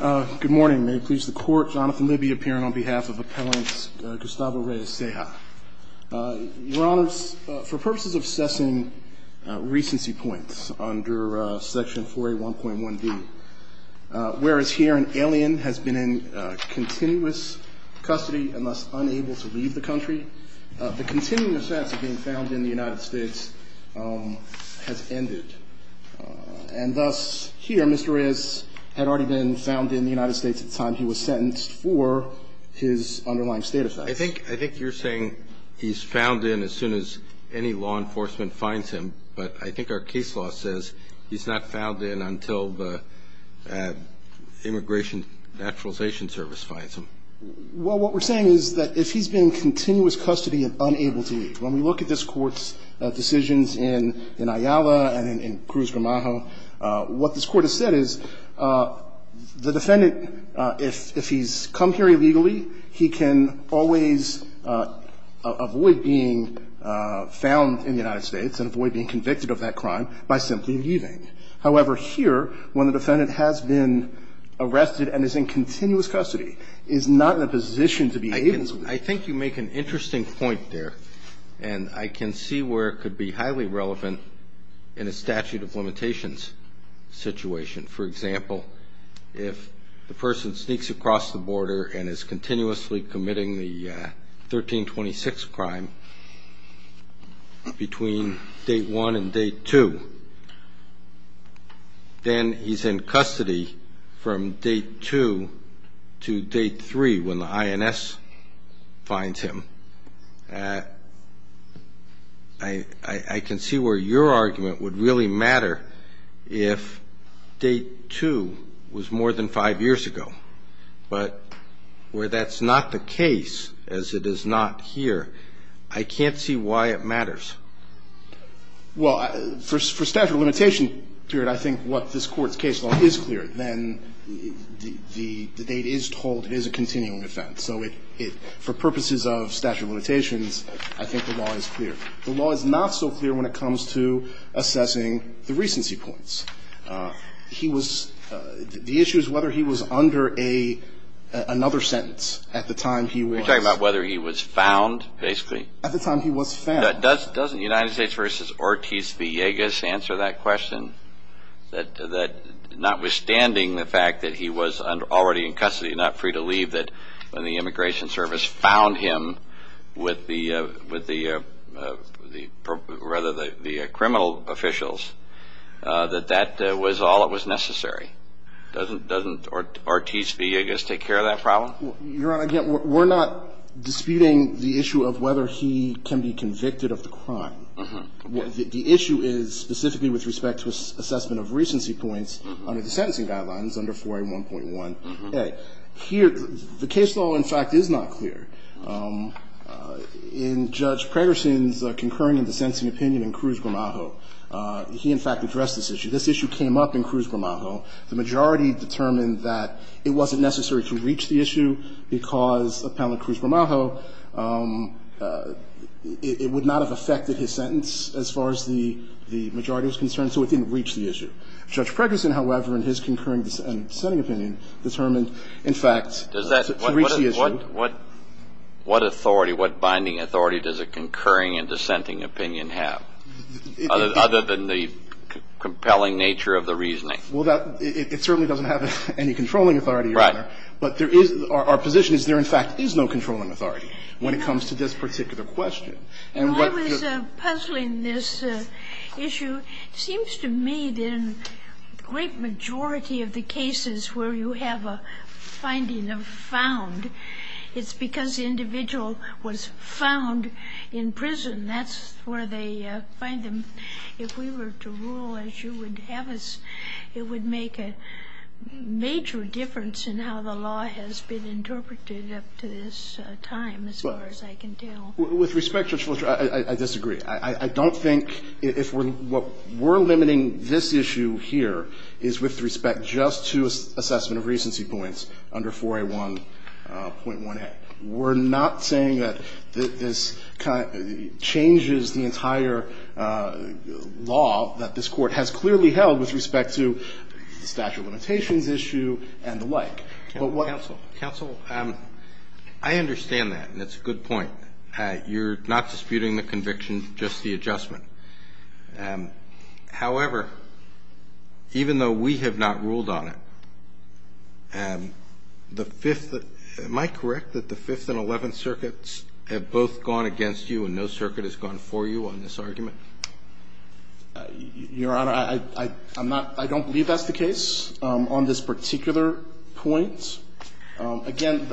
Good morning. May it please the Court, Jonathan Libby appearing on behalf of Appellant Gustavo Reyes-Ceja. Your Honors, for purposes of assessing recency points under Section 4A.1.1b, whereas here an alien has been in continuous custody and thus unable to leave the country, the continuing offense being found in the United States has ended. And thus, here, Mr. Reyes had already been found in the United States at the time he was sentenced for his underlying state offense. I think you're saying he's found in as soon as any law enforcement finds him, but I think our case law says he's not found in until the Immigration Naturalization Service finds him. Well, what we're saying is that if he's been in continuous custody and unable to leave, when we look at this Court's decisions in Ayala and in Cruz Gramajo, what this Court has said is the defendant, if he's come here illegally, he can always avoid being found in the United States and avoid being convicted of that crime by simply leaving. However, here, when the defendant has been arrested and is in continuous custody, is not in a position to be able to leave. I think you make an interesting point there, and I can see where it could be highly relevant in a statute of limitations situation. For example, if the person sneaks across the border and is continuously committing the 1326 crime between date one and date two, then he's in custody from date two to date three when the INS finds him. I can see where your argument would really matter if date two was more than five years ago. But where that's not the case, as it is not here, I can't see why it matters. Well, for statute of limitation period, I think what this Court's case law is clear. Then the date is told it is a continuing offense. So for purposes of statute of limitations, I think the law is clear. The law is not so clear when it comes to assessing the recency points. He was – the issue is whether he was under another sentence at the time he was – You're talking about whether he was found, basically? At the time he was found. Doesn't United States v. Ortiz-Villegas answer that question? That notwithstanding the fact that he was already in custody, not free to leave, that when the Immigration Service found him with the – rather, the criminal officials, that that was all that was necessary. Doesn't Ortiz-Villegas take care of that problem? Your Honor, again, we're not disputing the issue of whether he can be convicted of the crime. The issue is specifically with respect to assessment of recency points under the sentencing guidelines under 4A1.1a. Here, the case law, in fact, is not clear. In Judge Pregerson's concurring and dissenting opinion in Cruz-Gramajo, he, in fact, addressed this issue. This issue came up in Cruz-Gramajo. The majority determined that it wasn't necessary to reach the issue because of Appellant Cruz-Gramajo, it would not have affected his sentence as far as the majority was concerned, so it didn't reach the issue. Judge Pregerson, however, in his concurring and dissenting opinion, determined, in fact, to reach the issue. What authority, what binding authority does a concurring and dissenting opinion have, other than the compelling nature of the reasoning? Well, that – it certainly doesn't have any controlling authority, Your Honor. Right. But there is – our position is there, in fact, is no controlling authority when it comes to this particular question. And what the – When I was puzzling this issue, it seems to me that in the great majority of the cases where you have a finding of found, it's because the individual was found in prison. That's where they find them. If we were to rule as you would have us, it would make a major difference in how the law has been interpreted up to this time, as far as I can tell. With respect, Judge Fletcher, I disagree. I don't think if we're – what we're limiting this issue here is with respect just to assessment of recency points under 4A1.1a. We're not saying that this changes the entire law that this Court has clearly held with respect to the statute of limitations issue and the like. But what – Counsel, counsel, I understand that, and it's a good point. You're not disputing the conviction, just the adjustment. However, even though we have not ruled on it, the Fifth – am I correct that the Fifth and Eleventh Circuits have both gone against you and no circuit has gone for you on this argument? Your Honor, I'm not – I don't believe that's the case on this particular point. Again,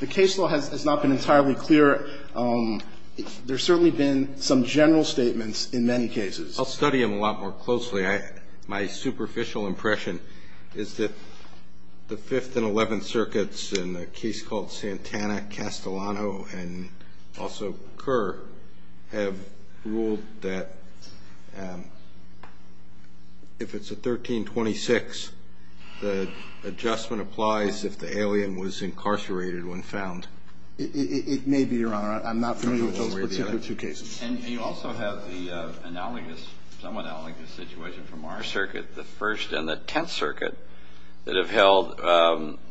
the case law has not been entirely clear. There's certainly been some general statements in many cases. I'll study them a lot more closely. My superficial impression is that the Fifth and Eleventh Circuits in a case called Santana-Castellano and also Kerr have ruled that if it's a 1326, the adjustment applies if the alien was incarcerated when found. It may be, Your Honor. I'm not familiar with those particular two cases. And you also have the analogous, somewhat analogous situation from our circuit, the First and the Tenth Circuit that have held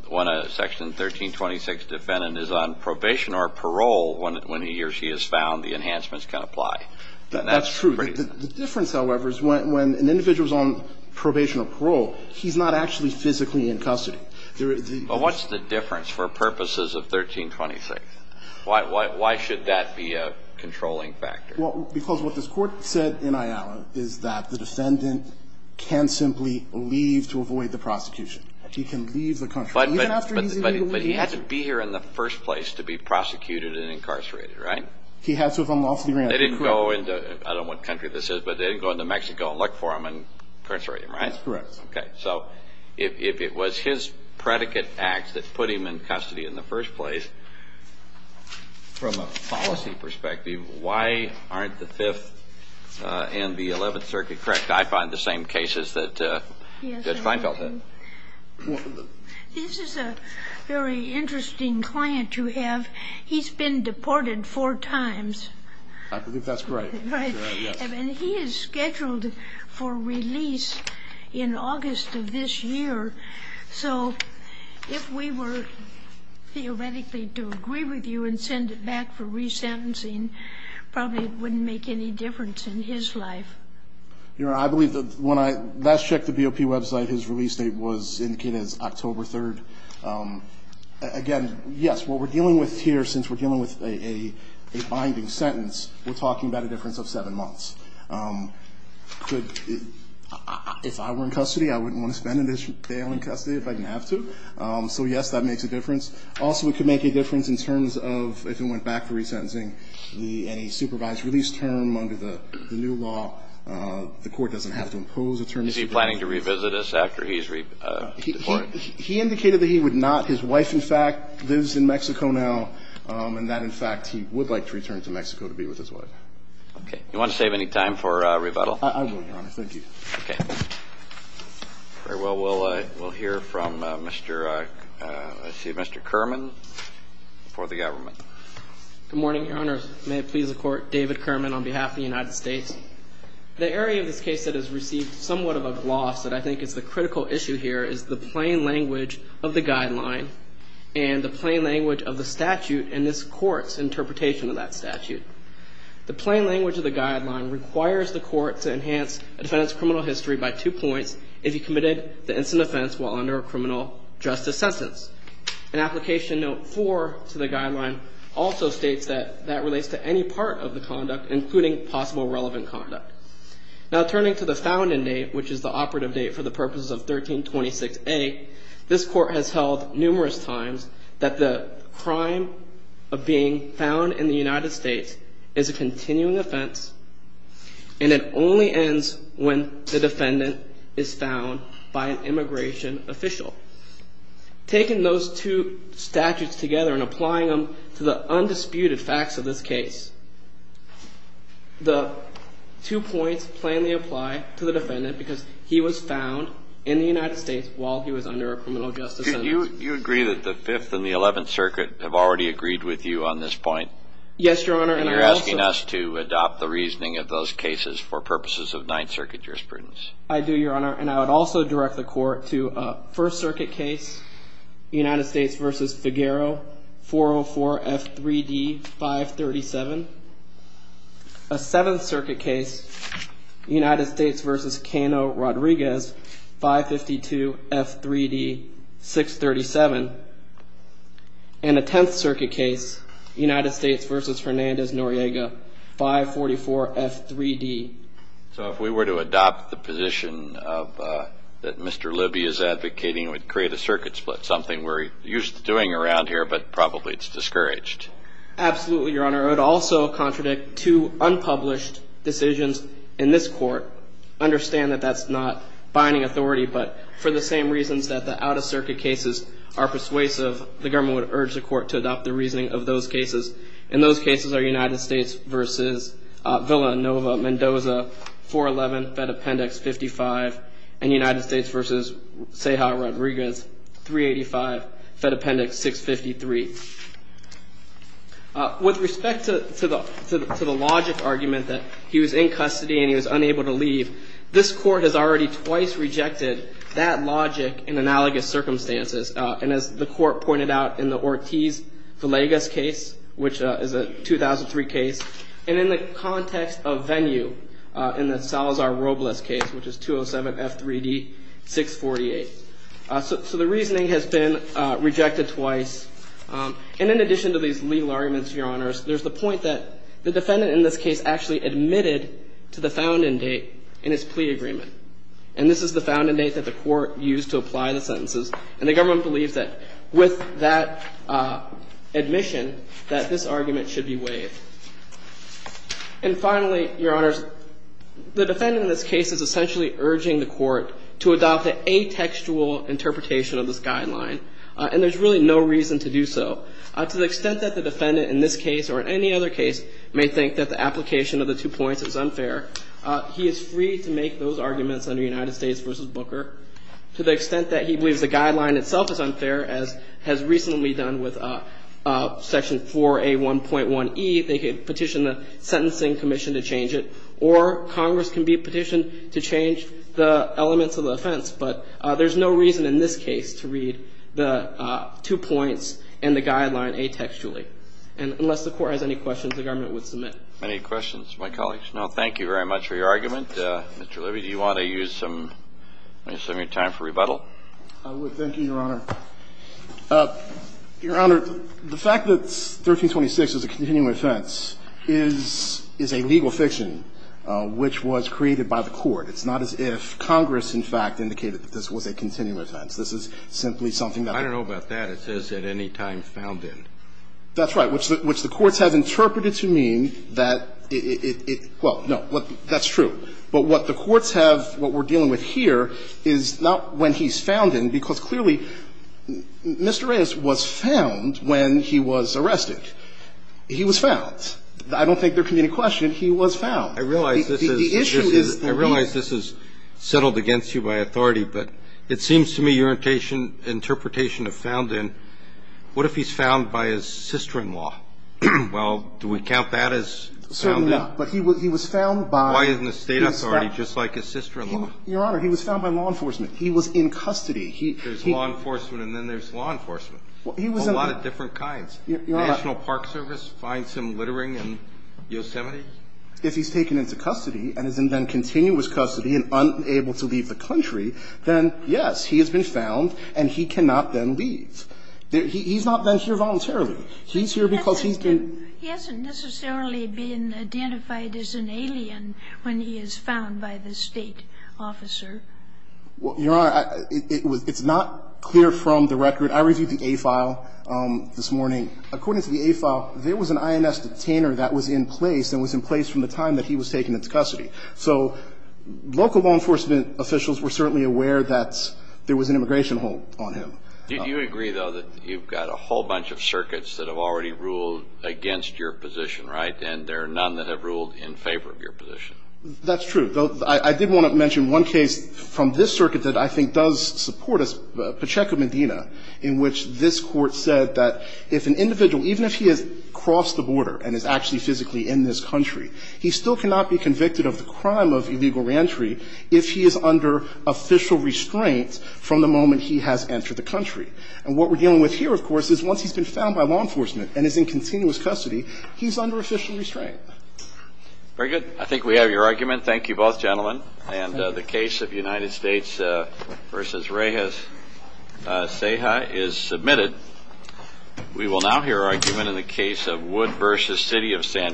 when a Section 1326 defendant is on probation or parole when he or she is found, the enhancements can apply. That's true. The difference, however, is when an individual is on probation or parole, he's not actually physically in custody. What's the difference for purposes of 1326? Why should that be a controlling factor? Well, because what this Court said in Ayala is that the defendant can simply leave to avoid the prosecution. He can leave the country. But he had to be here in the first place to be prosecuted and incarcerated, right? He had to have been off the ground. They didn't go into, I don't know what country this is, but they didn't go into Mexico and look for him and incarcerate him, right? That's correct. Okay. So if it was his predicate act that put him in custody in the first place, from a policy perspective, why aren't the Fifth and the Eleventh Circuit correct? I find the same cases that Judge Feinfeld had. This is a very interesting client you have. He's been deported four times. I believe that's correct. Right. And he is scheduled for release in August of this year. So if we were theoretically to agree with you and send it back for resentencing, probably it wouldn't make any difference in his life. Your Honor, I believe that when I last checked the BOP website, his release date was indicated as October 3rd. Again, yes, what we're dealing with here, since we're dealing with a binding sentence, we're talking about a difference of seven months. If I were in custody, I wouldn't want to spend an additional day I'm in custody if I didn't have to. So, yes, that makes a difference. Also, it could make a difference in terms of, if it went back to resentencing, any supervised release term under the new law. The Court doesn't have to impose a term. Is he planning to revisit this after he's deported? He indicated that he would not. His wife, in fact, lives in Mexico now, and that, in fact, he would like to return to Mexico to be with his wife. Okay. Do you want to save any time for rebuttal? I will, Your Honor. Thank you. Okay. Very well. We'll hear from Mr. Kerman for the government. Good morning, Your Honor. May it please the Court. David Kerman on behalf of the United States. The area of this case that has received somewhat of a gloss that I think is the critical issue here is the plain language of the guideline and the plain language of the statute and this Court's interpretation of that statute. The plain language of the guideline requires the Court to enhance a defendant's criminal history by two points if he committed the instant offense while under a criminal justice sentence. And Application Note 4 to the guideline also states that that relates to any part of the conduct, including possible relevant conduct. Now, turning to the founding date, which is the operative date for the purposes of 1326A, this Court has held numerous times that the crime of being found in the United States is a continuing offense and it only ends when the defendant is found by an immigration official. Taking those two statutes together and applying them to the undisputed facts of this case, the two points plainly apply to the defendant because he was found in the United States while he was under a criminal justice sentence. You agree that the Fifth and the Eleventh Circuit have already agreed with you on this point? Yes, Your Honor. And you're asking us to adopt the reasoning of those cases for purposes of Ninth Circuit jurisprudence. I do, Your Honor. And I would also direct the Court to a First Circuit case, United States v. Figueroa, 404F3D537, a Seventh Circuit case, United States v. Cano-Rodriguez, 552F3D637, and a Tenth Circuit case, United States v. Fernandez-Noriega, 544F3D. So if we were to adopt the position that Mr. Libby is advocating, it would create a circuit split, something we're used to doing around here, but probably it's discouraged. Absolutely, Your Honor. I would also contradict two unpublished decisions in this Court. Understand that that's not binding authority, but for the same reasons that the Out-of-Circuit cases are persuasive, the government would urge the Court to adopt the reasoning of those cases. And those cases are United States v. Villanova-Mendoza, 411F55, and United States v. Ceja-Rodriguez, 385F653. With respect to the logic argument that he was in custody and he was unable to leave, this Court has already twice rejected that logic in analogous circumstances. And as the Court pointed out in the Ortiz-Villegas case, which is a 2003 case, and in the context of venue in the Salazar-Robles case, which is 207F3D648. So the reasoning has been rejected twice. And in addition to these legal arguments, Your Honors, there's the point that the defendant in this case actually admitted to the found-in date in his plea agreement. And this is the found-in date that the Court used to apply the sentences. And the government believes that with that admission that this argument should be waived. And finally, Your Honors, the defendant in this case is essentially urging the Court to adopt an atextual interpretation of this guideline. And there's really no reason to do so. To the extent that the defendant in this case or in any other case may think that the application of the two points is unfair, he is free to make those arguments under United States v. Booker. To the extent that he believes the guideline itself is unfair, as has recently been done with Section 4A1.1e, they could petition the Sentencing Commission to change it, or Congress can be petitioned to change the elements of the offense. But there's no reason in this case to read the two points and the guideline atextually. And unless the Court has any questions, the government would submit. Kennedy. Any questions from my colleagues? No. Thank you very much for your argument. Mr. Levy, do you want to use some of your time for rebuttal? I would. Thank you, Your Honor. Your Honor, the fact that 1326 is a continuum offense is a legal fiction which was created by the Court. It's not as if Congress, in fact, indicated that this was a continuum offense. This is simply something that we're dealing with. I don't know about that. It says at any time found in. That's right, which the Court has interpreted to mean that it – well, no. That's true. But what the Court's have – what we're dealing with here is not when he's found in because clearly Mr. Reyes was found when he was arrested. He was found. I don't think there can be any question. He was found. I realize this is settled against you by authority, but it seems to me your interpretation of found in, what if he's found by his sister-in-law? Well, do we count that as found in? Certainly not. But he was found by – Why isn't the State authority just like his sister-in-law? Your Honor, he was found by law enforcement. He was in custody. There's law enforcement and then there's law enforcement, a lot of different kinds. Your Honor – National Park Service finds him littering in Yosemite. If he's taken into custody and is in then continuous custody and unable to leave the country, then yes, he has been found and he cannot then leave. He's not then here voluntarily. He's here because he's been – He hasn't necessarily been identified as an alien when he is found by the State officer. Your Honor, it's not clear from the record. I reviewed the A file this morning. According to the A file, there was an INS detainer that was in place and was in place from the time that he was taken into custody. So local law enforcement officials were certainly aware that there was an immigration hold on him. Did you agree, though, that you've got a whole bunch of circuits that have already ruled against your position, right, and there are none that have ruled in favor of your position? That's true. I did want to mention one case from this circuit that I think does support us, Pacheco Medina, in which this Court said that if an individual, even if he has crossed the border and is actually physically in this country, he still cannot be convicted of the crime of illegal reentry if he is under official restraint from the moment he has entered the country. And what we're dealing with here, of course, is once he's been found by law enforcement and is in continuous custody, he's under official restraint. Very good. I think we have your argument. Thank you, both gentlemen. And the case of United States v. Reyes-Ceja is submitted. We will now hear argument in the case of Wood v. City of San Diego.